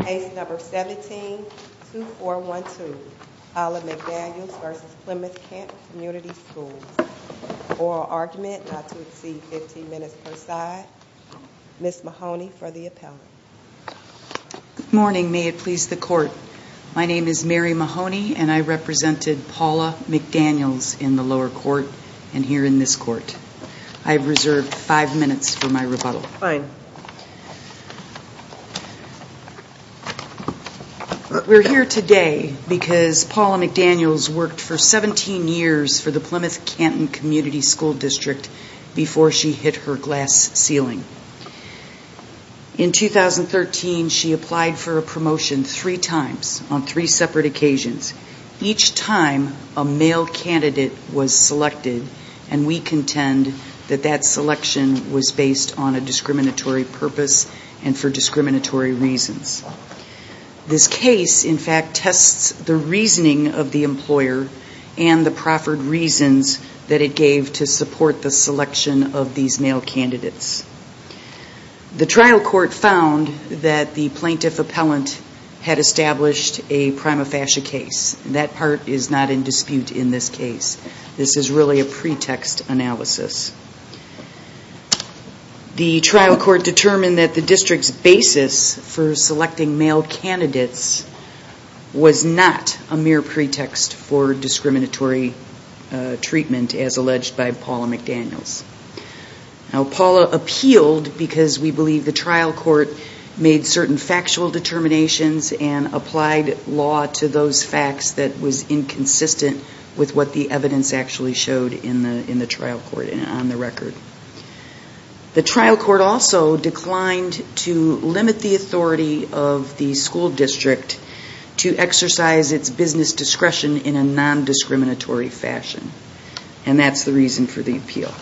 Case No. 17-2412 Paula McDaniels v. Plymouth-Canton Community Schools Oral argument not to exceed 15 minutes per side Ms. Mahoney for the appellate Good morning, may it please the Court My name is Mary Mahoney and I represented Paula McDaniels in the lower court and here in this court I have reserved 5 minutes for my rebuttal Fine We're here today because Paula McDaniels worked for 17 years for the Plymouth-Canton Community School District before she hit her glass ceiling In 2013 she applied for a promotion 3 times on 3 separate occasions Each time a male candidate was selected and we contend that that selection was based on a discriminatory purpose and for discriminatory reasons This case in fact tests the reasoning of the employer and the proffered reasons that it gave to support the selection of these male candidates The trial court found that the plaintiff appellant had established a prima facie case That part is not in dispute in this case This is really a pretext analysis The trial court determined that the district's basis for selecting male candidates was not a mere pretext for discriminatory treatment as alleged by Paula McDaniels Paula appealed because we believe the trial court made certain factual determinations and applied law to those facts that was inconsistent with what the evidence actually showed in the trial court and on the record The trial court also declined to limit the authority of the school district to exercise its business discretion in a non-discriminatory fashion And that's the reason for the appeal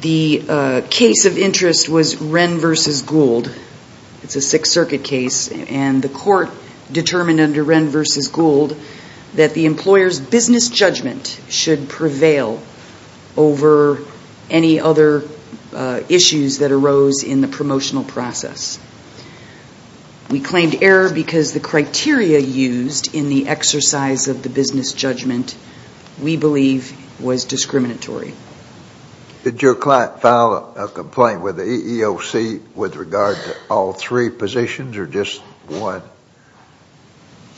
The case of interest was Wren v. Gould It's a 6th Circuit case and the court determined under Wren v. Gould that the employer's business judgment should prevail over any other issues that arose in the promotional process We claimed error because the criteria used in the exercise of the business judgment we believe was discriminatory Did your client file a complaint with the EEOC with regard to all three positions or just one?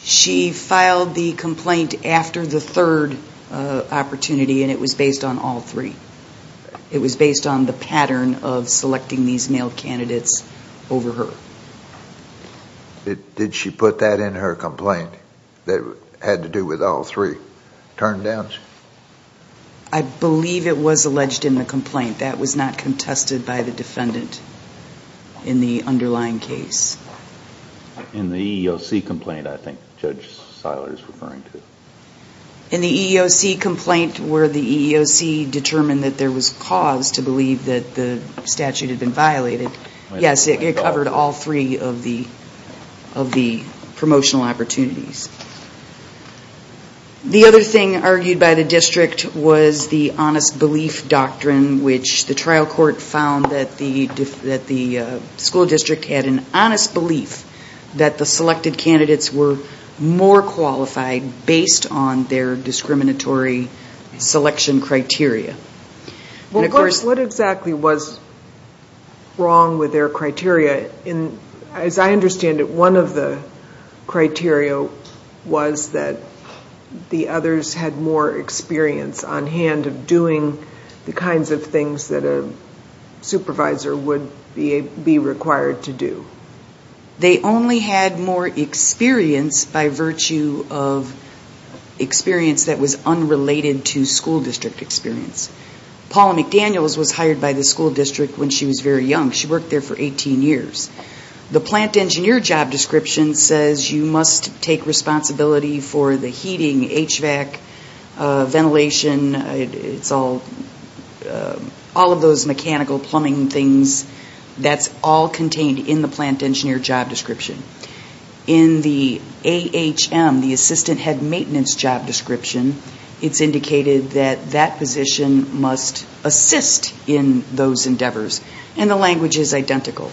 She filed the complaint after the third opportunity and it was based on all three It was based on the pattern of selecting these male candidates over her Did she put that in her complaint that had to do with all three turn downs? I believe it was alleged in the complaint. That was not contested by the defendant in the underlying case In the EEOC complaint I think Judge Seiler is referring to In the EEOC complaint where the EEOC determined that there was cause to believe that the statute had been violated Yes, it covered all three of the promotional opportunities The other thing argued by the district was the honest belief doctrine The trial court found that the school district had an honest belief that the selected candidates were more qualified based on their discriminatory selection criteria What exactly was wrong with their criteria? As I understand it, one of the criteria was that the others had more experience on hand of doing the kinds of things that a supervisor would be required to do They only had more experience by virtue of experience that was unrelated to school district experience Paula McDaniels was hired by the school district when she was very young. She worked there for 18 years The plant engineer job description says you must take responsibility for the heating, HVAC, ventilation, all of those mechanical plumbing things That's all contained in the plant engineer job description In the AHM, the assistant head maintenance job description, it's indicated that that position must assist in those endeavors And the language is identical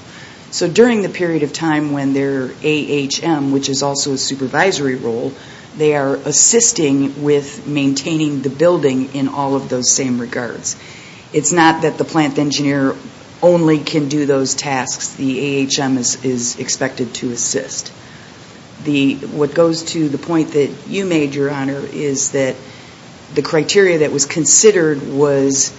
So during the period of time when they're AHM, which is also a supervisory role, they are assisting with maintaining the building in all of those same regards It's not that the plant engineer only can do those tasks. The AHM is expected to assist What goes to the point that you made, Your Honor, is that the criteria that was considered was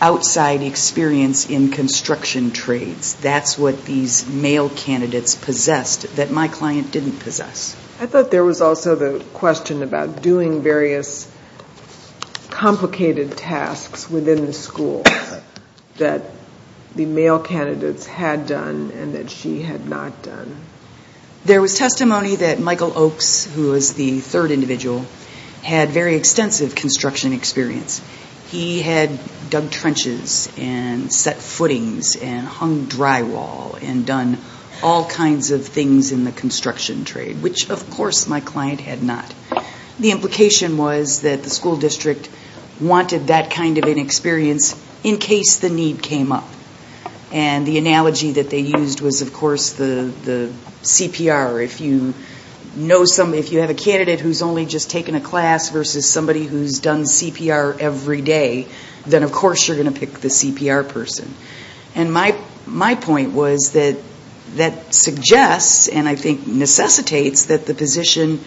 outside experience in construction trades That's what these male candidates possessed that my client didn't possess I thought there was also the question about doing various complicated tasks within the school that the male candidates had done and that she had not done There was testimony that Michael Oakes, who was the third individual, had very extensive construction experience He had dug trenches and set footings and hung drywall and done all kinds of things in the construction trade, which of course my client had not The implication was that the school district wanted that kind of an experience in case the need came up And the analogy that they used was, of course, the CPR If you have a candidate who's only just taken a class versus somebody who's done CPR every day, then of course you're going to pick the CPR person And my point was that that suggests and I think necessitates that the position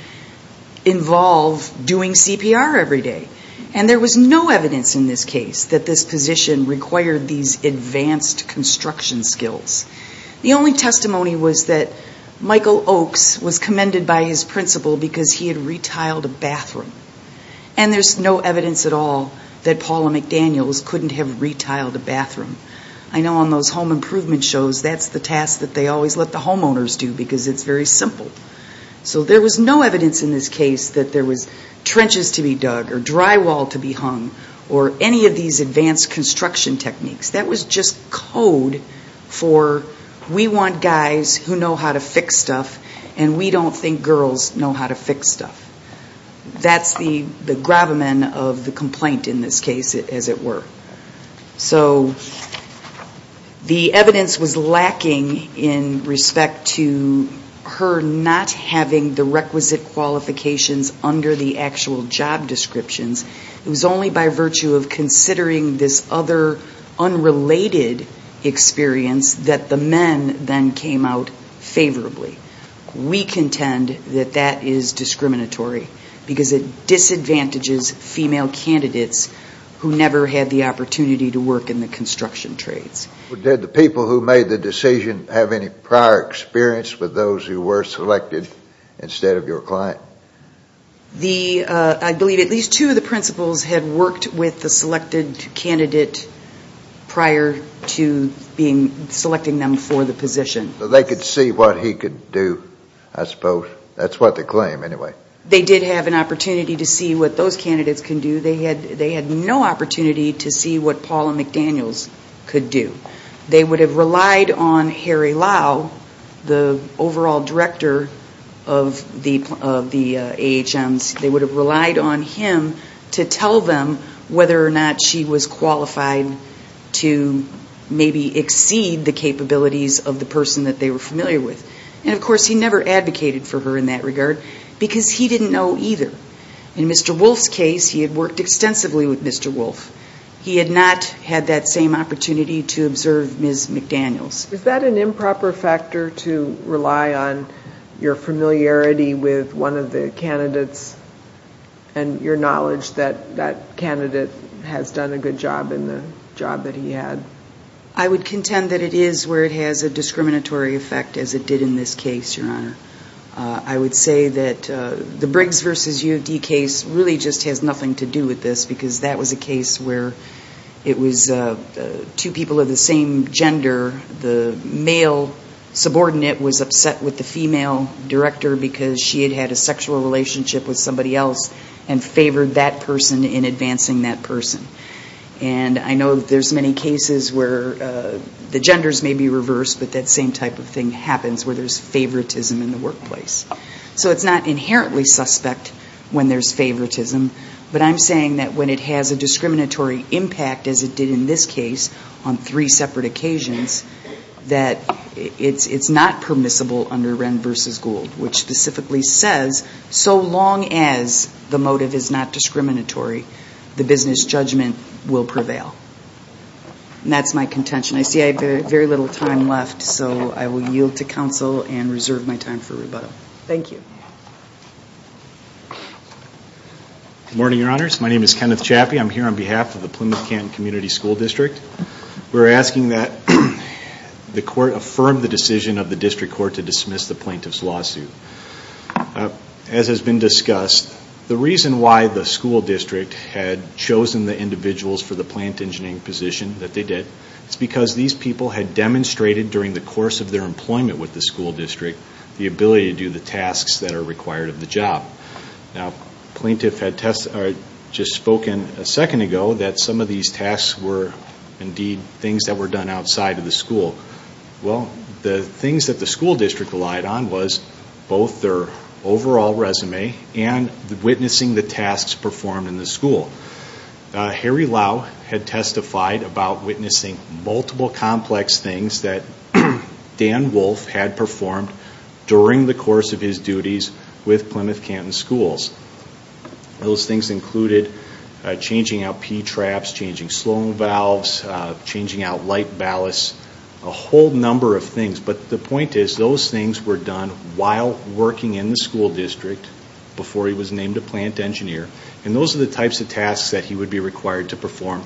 involve doing CPR every day And there was no evidence in this case that this position required these advanced construction skills The only testimony was that Michael Oakes was commended by his principal because he had retiled a bathroom And there's no evidence at all that Paula McDaniels couldn't have retiled a bathroom I know on those home improvement shows, that's the task that they always let the homeowners do because it's very simple So there was no evidence in this case that there was trenches to be dug or drywall to be hung or any of these advanced construction techniques That was just code for we want guys who know how to fix stuff and we don't think girls know how to fix stuff That's the gravamen of the complaint in this case, as it were So the evidence was lacking in respect to her not having the requisite qualifications under the actual job descriptions It was only by virtue of considering this other unrelated experience that the men then came out favorably We contend that that is discriminatory because it disadvantages female candidates who never had the opportunity to work in the construction trades Did the people who made the decision have any prior experience with those who were selected instead of your client? I believe at least two of the principals had worked with the selected candidate prior to selecting them for the position So they could see what he could do, I suppose, that's what they claim anyway They did have an opportunity to see what those candidates could do, they had no opportunity to see what Paula McDaniels could do They would have relied on Harry Lau, the overall director of the AHMs They would have relied on him to tell them whether or not she was qualified to maybe exceed the capabilities of the person that they were familiar with And of course he never advocated for her in that regard because he didn't know either In Mr. Wolf's case, he had worked extensively with Mr. Wolf He had not had that same opportunity to observe Ms. McDaniels Is that an improper factor to rely on your familiarity with one of the candidates and your knowledge that that candidate has done a good job in the job that he had? I would contend that it is where it has a discriminatory effect as it did in this case, Your Honor I would say that the Briggs v. U of D case really just has nothing to do with this because that was a case where it was two people of the same gender The male subordinate was upset with the female director because she had had a sexual relationship with somebody else And favored that person in advancing that person And I know that there's many cases where the genders may be reversed but that same type of thing happens where there's favoritism in the workplace So it's not inherently suspect when there's favoritism But I'm saying that when it has a discriminatory impact as it did in this case on three separate occasions That it's not permissible under Wren v. Gould Which specifically says so long as the motive is not discriminatory, the business judgment will prevail And that's my contention. I see I have very little time left so I will yield to counsel and reserve my time for rebuttal Thank you Good morning, Your Honors. My name is Kenneth Chappie. I'm here on behalf of the Plymouth-Canton Community School District We're asking that the court affirm the decision of the district court to dismiss the plaintiff's lawsuit As has been discussed, the reason why the school district had chosen the individuals for the plant engineering position that they did Is because these people had demonstrated during the course of their employment with the school district The ability to do the tasks that are required of the job Now, the plaintiff had just spoken a second ago that some of these tasks were indeed things that were done outside of the school Well, the things that the school district relied on was both their overall resume and witnessing the tasks performed in the school Harry Lau had testified about witnessing multiple complex things that Dan Wolfe had performed during the course of his duties with Plymouth-Canton schools Those things included changing out P-traps, changing slowing valves, changing out light ballasts, a whole number of things But the point is, those things were done while working in the school district before he was named a plant engineer And those are the types of tasks that he would be required to perform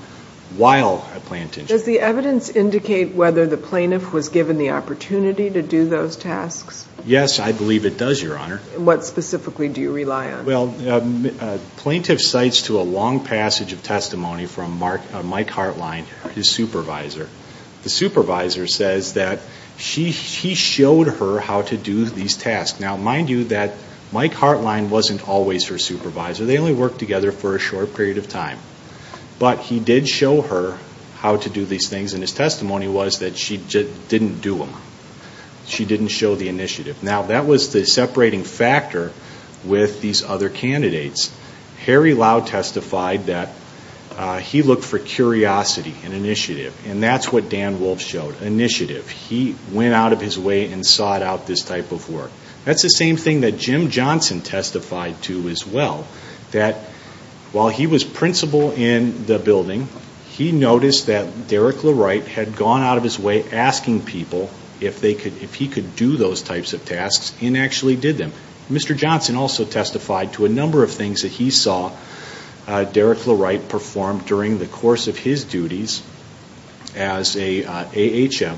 while a plant engineer Does the evidence indicate whether the plaintiff was given the opportunity to do those tasks? Yes, I believe it does, your honor What specifically do you rely on? Well, plaintiff cites to a long passage of testimony from Mike Hartline, his supervisor The supervisor says that he showed her how to do these tasks Now, mind you that Mike Hartline wasn't always her supervisor, they only worked together for a short period of time But he did show her how to do these things and his testimony was that she didn't do them She didn't show the initiative Now, that was the separating factor with these other candidates Harry Lau testified that he looked for curiosity and initiative And that's what Dan Wolfe showed, initiative He went out of his way and sought out this type of work That's the same thing that Jim Johnson testified to as well That while he was principal in the building, he noticed that Derrick LaWright had gone out of his way Asking people if he could do those types of tasks and actually did them Mr. Johnson also testified to a number of things that he saw Derrick LaWright perform during the course of his duties As an AHM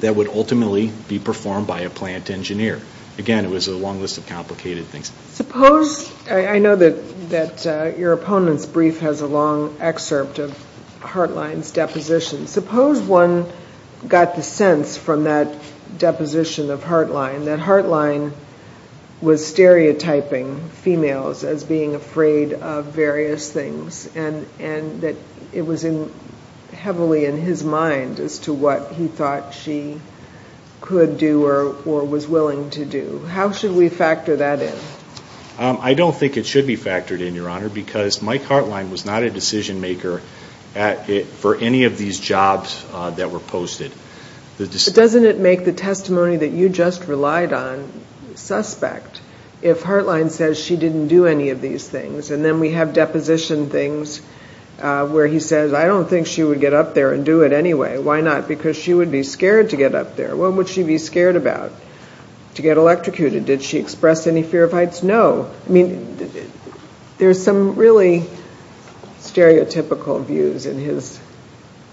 that would ultimately be performed by a plant engineer Again, it was a long list of complicated things I know that your opponent's brief has a long excerpt of Hartline's deposition Suppose one got the sense from that deposition of Hartline That Hartline was stereotyping females as being afraid of various things And that it was heavily in his mind as to what he thought she could do or was willing to do How should we factor that in? I don't think it should be factored in, Your Honor Because Mike Hartline was not a decision maker for any of these jobs that were posted Doesn't it make the testimony that you just relied on suspect? If Hartline says she didn't do any of these things And then we have deposition things where he says I don't think she would get up there and do it anyway Why not? Because she would be scared to get up there What would she be scared about? To get electrocuted Did she express any fear of heights? No I mean, there's some really stereotypical views in his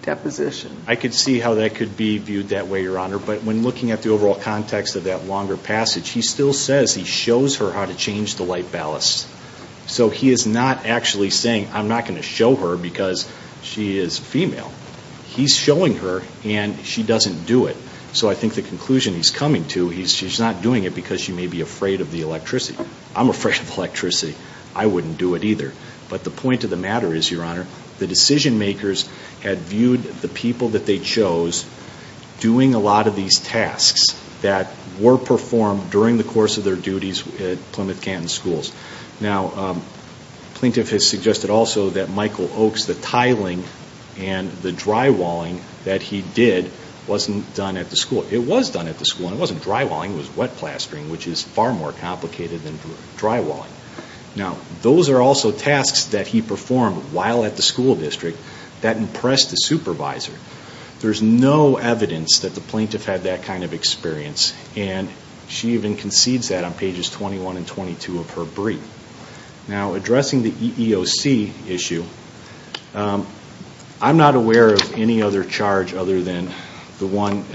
deposition I could see how that could be viewed that way, Your Honor But when looking at the overall context of that longer passage He still says he shows her how to change the light ballast So he is not actually saying I'm not going to show her because she is female He's showing her and she doesn't do it So I think the conclusion he's coming to He's not doing it because she may be afraid of the electricity I'm afraid of electricity I wouldn't do it either But the point of the matter is, Your Honor The decision makers had viewed the people that they chose Doing a lot of these tasks that were performed during the course of their duties at Plymouth Canton Schools Now, the plaintiff has suggested also that Michael Oakes The tiling and the drywalling that he did Wasn't done at the school It was done at the school And it wasn't drywalling It was wet plastering Which is far more complicated than drywalling Now, those are also tasks that he performed while at the school district There's no evidence that the plaintiff had that kind of experience And she even concedes that on pages 21 and 22 of her brief Now, addressing the EEOC issue I'm not aware of any other charge other than The one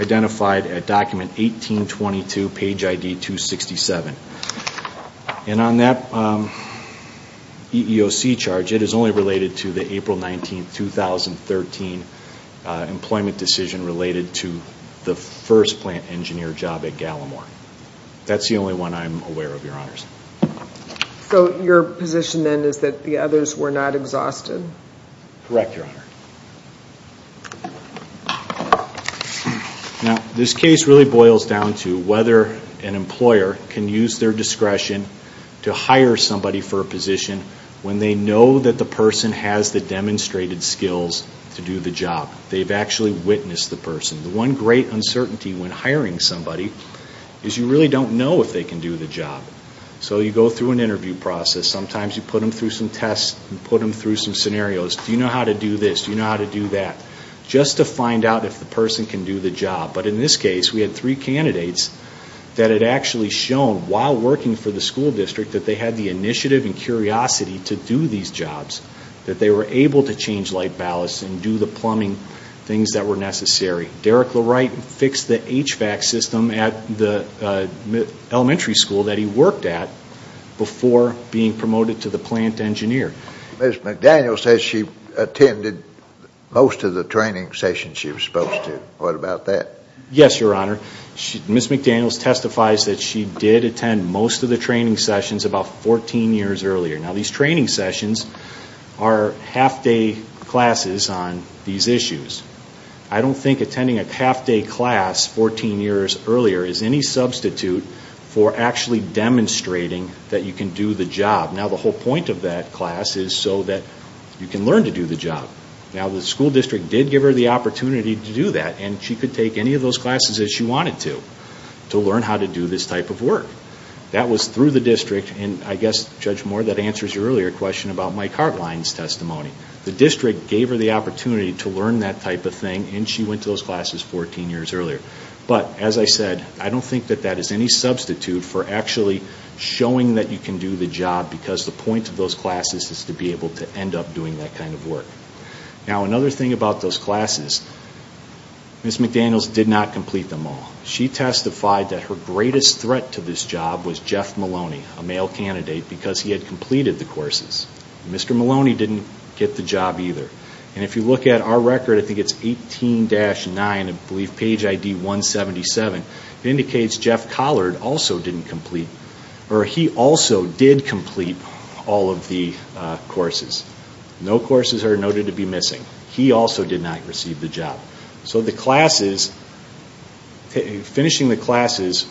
identified at document 1822, page ID 267 And on that EEOC charge It is only related to the April 19, 2013 Employment decision related to the first plant engineer job at Gallimore That's the only one I'm aware of, Your Honors So, your position then is that the others were not exhausted? Correct, Your Honor Now, this case really boils down to whether an employer Can use their discretion to hire somebody for a position When they know that the person has the demonstrated skills to do the job They've actually witnessed the person The one great uncertainty when hiring somebody Is you really don't know if they can do the job So you go through an interview process Sometimes you put them through some tests You put them through some scenarios Do you know how to do this? Do you know how to do that? Just to find out if the person can do the job But in this case, we had three candidates That had actually shown, while working for the school district That they had the initiative and curiosity to do these jobs That they were able to change light ballasts And do the plumbing things that were necessary Derek Leright fixed the HVAC system at the elementary school That he worked at before being promoted to the plant engineer Ms. McDaniel says she attended most of the training sessions she was supposed to What about that? Yes, Your Honor Ms. McDaniel testifies that she did attend most of the training sessions About 14 years earlier Now these training sessions are half-day classes on these issues I don't think attending a half-day class 14 years earlier Is any substitute for actually demonstrating that you can do the job Now the whole point of that class is so that you can learn to do the job Now the school district did give her the opportunity to do that And she could take any of those classes that she wanted to To learn how to do this type of work That was through the district And I guess, Judge Moore, that answers your earlier question About Mike Hartline's testimony The district gave her the opportunity to learn that type of thing And she went to those classes 14 years earlier But, as I said, I don't think that that is any substitute for actually Showing that you can do the job Because the point of those classes is to be able to end up doing that kind of work Now another thing about those classes Ms. McDaniel did not complete them all She testified that her greatest threat to this job Was Jeff Maloney, a male candidate Because he had completed the courses Mr. Maloney didn't get the job either And if you look at our record, I think it's 18-9 I believe page ID 177 It indicates Jeff Collard also didn't complete Or he also did complete all of the courses No courses are noted to be missing He also did not receive the job So the classes Finishing the classes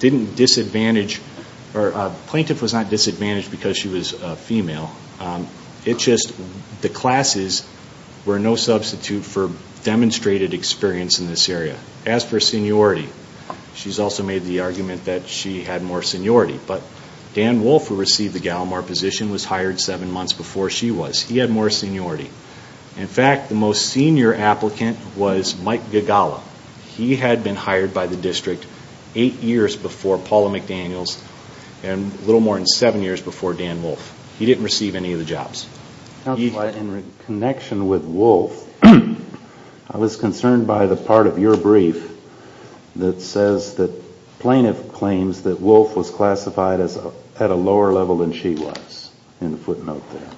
Plaintiff was not disadvantaged because she was a female It's just the classes were no substitute for demonstrated experience in this area As for seniority She's also made the argument that she had more seniority But Dan Wolfe, who received the Gallimore position Was hired 7 months before she was He had more seniority In fact, the most senior applicant was Mike Gagala He had been hired by the district 8 years before Paula McDaniels And a little more than 7 years before Dan Wolfe He didn't receive any of the jobs In connection with Wolfe I was concerned by the part of your brief That says that plaintiff claims that Wolfe was classified At a lower level than she was In the footnote there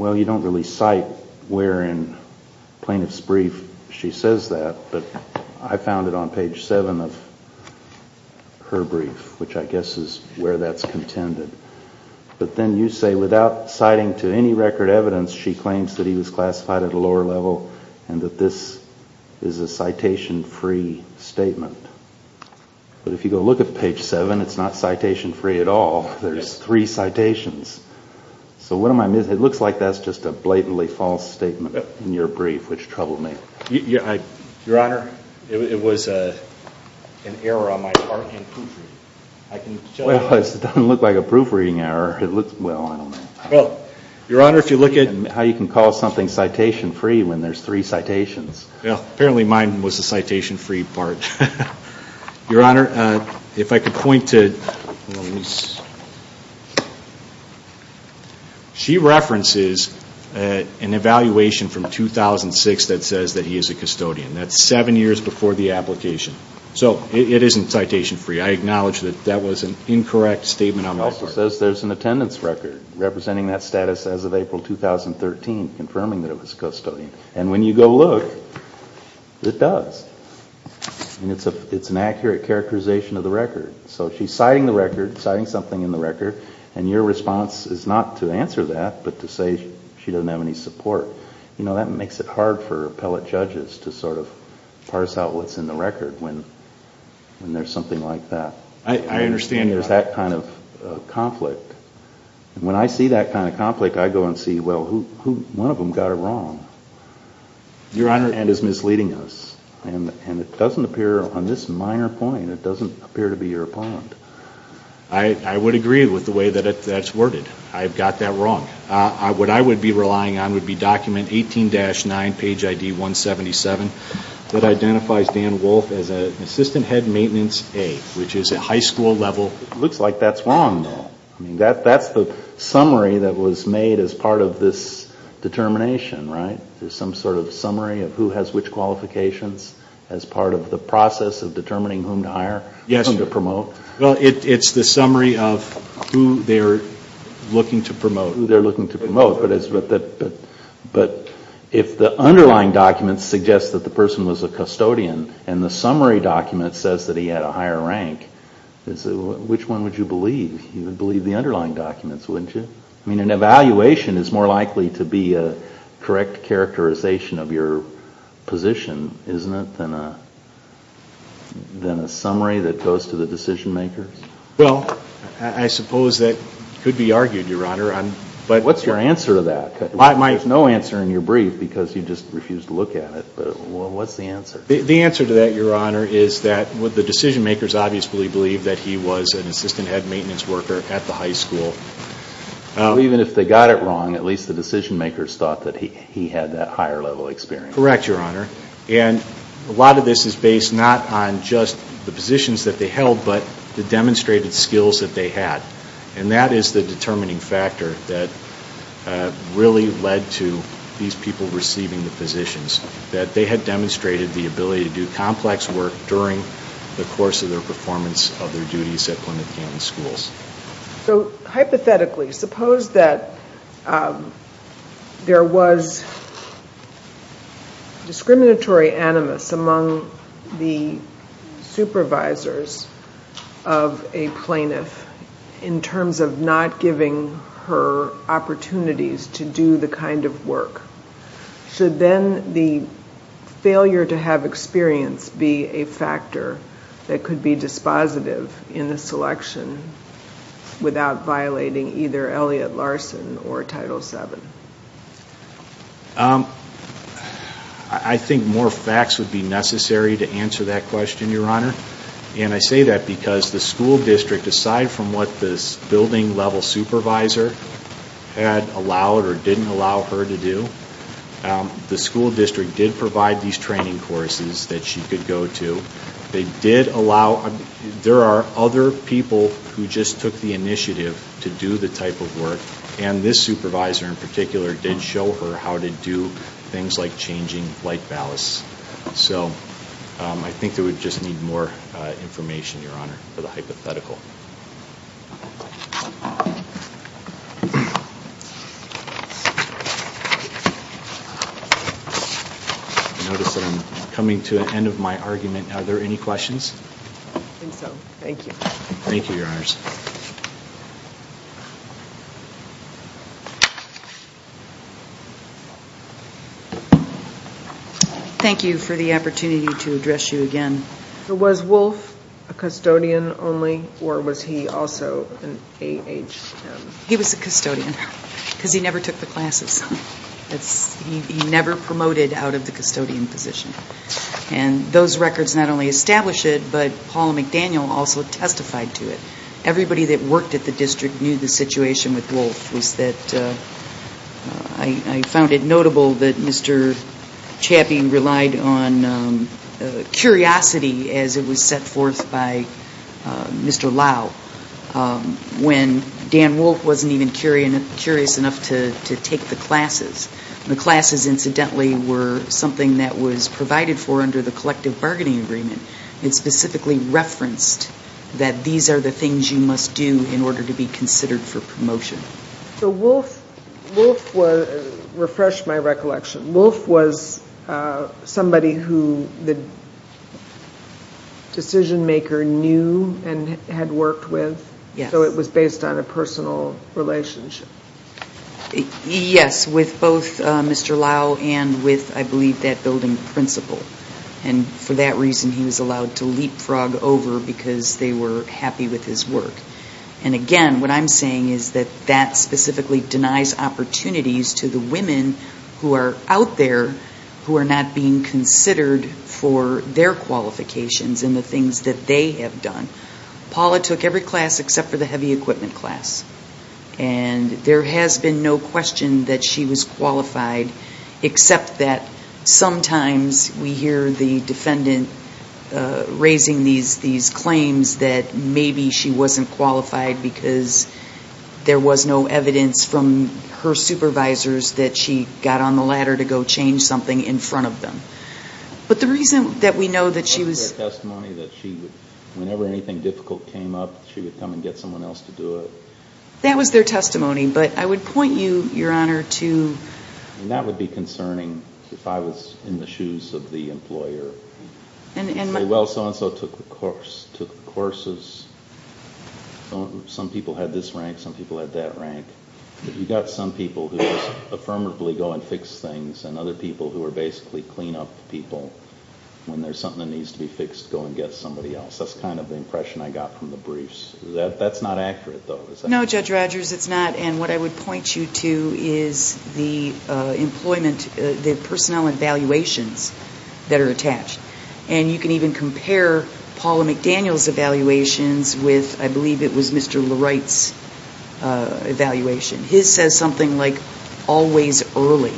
Well, you don't really cite where in plaintiff's brief she says that But I found it on page 7 of her brief Which I guess is where that's contended But then you say without citing to any record evidence She claims that he was classified at a lower level And that this is a citation-free statement But if you go look at page 7 It's not citation-free at all There's three citations So what am I missing? It looks like that's just a blatantly false statement In your brief, which troubled me Your Honor, it was an error on my part in proofreading Well, it doesn't look like a proofreading error Well, I don't know Your Honor, if you look at How you can call something citation-free When there's three citations Well, apparently mine was the citation-free part Your Honor, if I could point to She references an evaluation from 2006 That says that he is a custodian That's seven years before the application So it isn't citation-free I acknowledge that that was an incorrect statement on my part It also says there's an attendance record Representing that status as of April 2013 Confirming that it was custodian And when you go look It does And it's an accurate characterization of the record So she's citing the record Citing something in the record And your response is not to answer that But to say she doesn't have any support You know, that makes it hard for appellate judges To sort of parse out what's in the record When there's something like that I understand your... There's that kind of conflict And when I see that kind of conflict I go and see, well, one of them got it wrong Your Honor And is misleading us And it doesn't appear On this minor point It doesn't appear to be your point I would agree with the way that that's worded I've got that wrong What I would be relying on Would be document 18-9, page ID 177 That identifies Dan Wolfe As an Assistant Head Maintenance A Which is a high school level Looks like that's wrong, though That's the summary that was made As part of this determination, right? There's some sort of summary Of who has which qualifications As part of the process of determining Whom to hire, whom to promote Well, it's the summary of Who they're looking to promote Who they're looking to promote But if the underlying documents Suggest that the person was a custodian And the summary document says That he had a higher rank Which one would you believe? You would believe the underlying documents, wouldn't you? I mean, an evaluation is more likely To be a correct characterization Of your position, isn't it? Than a summary that goes to the decision makers? Well, I suppose that could be argued, Your Honor What's your answer to that? There's no answer in your brief Because you just refused to look at it Well, what's the answer? The answer to that, Your Honor Is that the decision makers Obviously believe that he was An Assistant Head Maintenance Worker At the high school Even if they got it wrong At least the decision makers thought That he had that higher level experience Correct, Your Honor And a lot of this is based Not on just the positions that they held But the demonstrated skills that they had And that is the determining factor That really led to These people receiving the positions That they had demonstrated The ability to do complex work During the course of their performance Of their duties at Plymouth County Schools So, hypothetically Suppose that There was Discriminatory animus Among the supervisors Of a plaintiff In terms of not giving her Opportunities to do the kind of work Should then the failure to have experience Be a factor that could be dispositive In the selection Without violating either Elliot Larson Or Title VII I think more facts would be necessary To answer that question, Your Honor And I say that because The school district Aside from what this Building level supervisor Had allowed or didn't allow her to do The school district did provide These training courses That she could go to They did allow There are other people Who just took the initiative To do the type of work And this supervisor in particular Did show her how to do Things like changing light ballasts So, I think that we just need more Information, Your Honor For the hypothetical I notice that I'm coming to The end of my argument Are there any questions? I think so Thank you Thank you, Your Honors Thank you for the opportunity To address you again Was Wolf a custodian only Or was he also an AHM? He was a custodian Because he never took the classes He never promoted Out of the custodian position And those records Not only establish it But Paul McDaniel Also testified to it Everybody that worked At the district Knew the situation with Wolf Was that I found it notable That Mr. Chappie Relied on curiosity As it was set forth By Mr. Lau When Dan Wolf Wasn't even curious enough To take the classes The classes incidentally Were something That was provided for Under the collective Bargaining agreement It specifically referenced That these are the things You must do In order to be considered For promotion So Wolf Wolf was Refresh my recollection Wolf was Somebody who The Decision maker knew And had worked with Yes So it was based on A personal relationship Yes With both Mr. Lau And with I believe That building principal And for that reason He was allowed To leap frog over Because they were Happy with his work And again What I'm saying Is that That specifically Denies opportunities To the women Who are out there Who are not being considered For their qualifications And the things That they have done Paula took every class Except for the heavy equipment class And there has been No question That she was qualified Except that Sometimes We hear the defendant Raising these Claims that Maybe she wasn't qualified Because There was no evidence From her supervisors That she got on the ladder To go change something In front of them But the reason That we know That she was That was their testimony That she would Whenever anything difficult Came up She would come and get Someone else to do it That was their testimony But I would point you Your honor To And that would be Concerning If I was In the shoes Of the employer Well so and so Took the courses Some people Had this rank Some people Had that rank But you got Some people Who would Affirmatively Go and fix things And other people Who are basically Clean up people When there's something That needs to be fixed Go and get somebody else That's kind of The impression I got from the briefs That's not accurate though No Judge Rogers It's not And what I would Point you to Is the Employment The personnel Evaluations That are attached And you can even Compare Paula McDaniel's Evaluations With I believe It was Mr. Leright's Evaluation His says something Like Always early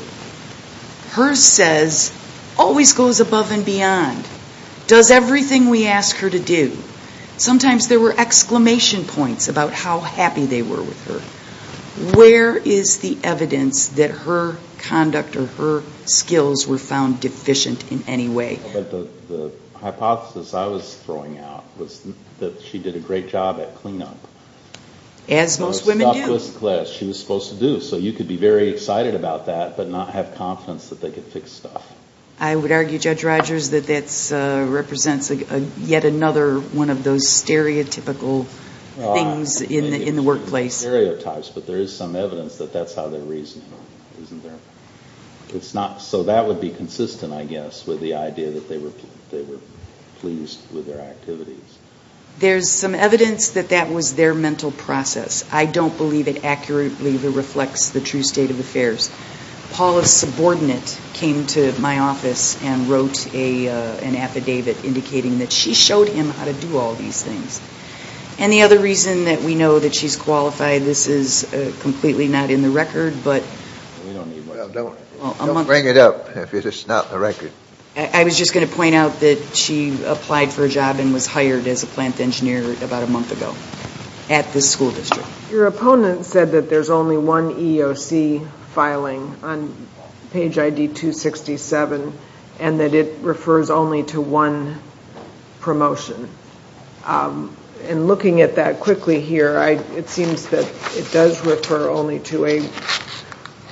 Hers says Always goes above And beyond Does everything We ask her to do Sometimes there were Exclamation points About how happy They were with her Where is the Evidence That her Conduct Or her Skills were Found deficient In any way The hypothesis I was throwing out Was that she did a Great job at Clean up As most Women do She was supposed to do So you could be Very excited about that But not have confidence That they could Fix stuff I would argue Judge Rogers That that Represents Yet another One of those Stereotypical Things In the workplace Stereotypes But there is some Evidence that that's How they're reasoning Isn't there It's not So that would be Consistent I guess With the idea That they were Pleased with their Activities There's some evidence That that was Their mental process I don't believe It accurately Reflects the true State of affairs Paula Subordinate Came to my office And wrote An affidavit Indicating that She showed him How to do All these things And the other reason That we know That she's qualified This is Completely not in the record But We don't need Well don't Don't bring it up If it's not in the record I was just going to point out That she Applied for a job And was hired As a plant engineer About a month ago At the school district Your opponent Said that there's only One EEOC Filing On Page I.D. 267 And that it Refers only to One Promotion And looking at that Quickly here It seems that It does refer Only to a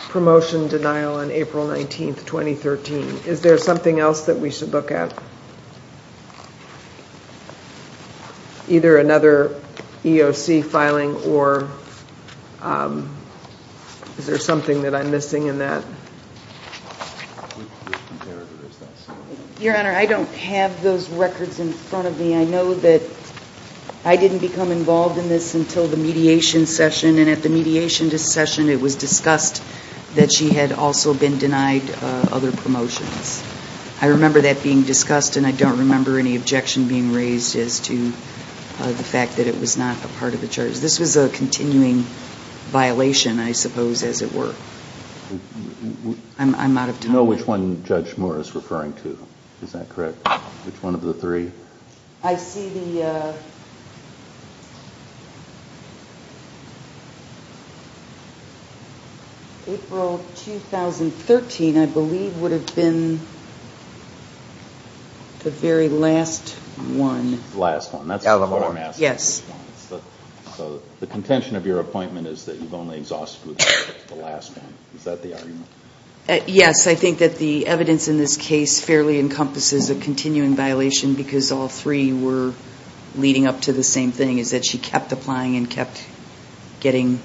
Promotion Denial On April 19th 2013 Is there something else That we should look at Either another EEOC filing Or Is there something That I'm missing in that Your honor I don't have those records In front of me I know that I didn't become Involved in this Until the mediation Session And at the mediation Session It was discussed That she had also Been denied Other promotions I remember that Being discussed And I don't remember Any objection being Raised as to The fact that It was not a part Of the charges This was a Continuing Violation I suppose As it were I'm out of time Which one Judge Moore Is referring to Is that correct Which one of the Three I see the April 2013 I believe Would have been The very last One Last one Yes The contention Of your appointment Is that you've only Exhausted with The last one Is that the argument Yes I think That the evidence In this case Fairly encompasses A continuing Violation Because all Three were Leading up to The same thing Is that she Kept applying And kept Getting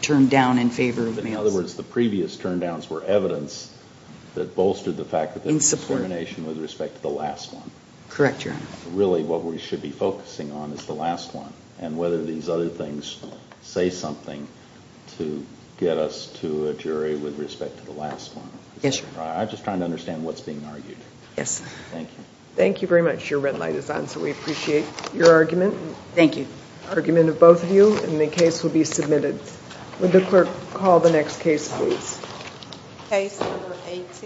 Turned down In favor of In other words The previous Turndowns Were evidence That bolstered The fact that There was discrimination With respect to The last one Correct your honor Really what we Should be focusing On is the last one And whether these Other things Say something To get us To a jury With respect to The last one Yes your honor I'm just trying to Understand what's being Argued Yes Thank you Thank you very much Your red light is on So we appreciate Your argument Thank you The argument of both Of you and the case Will be submitted Would the clerk Call the next case Please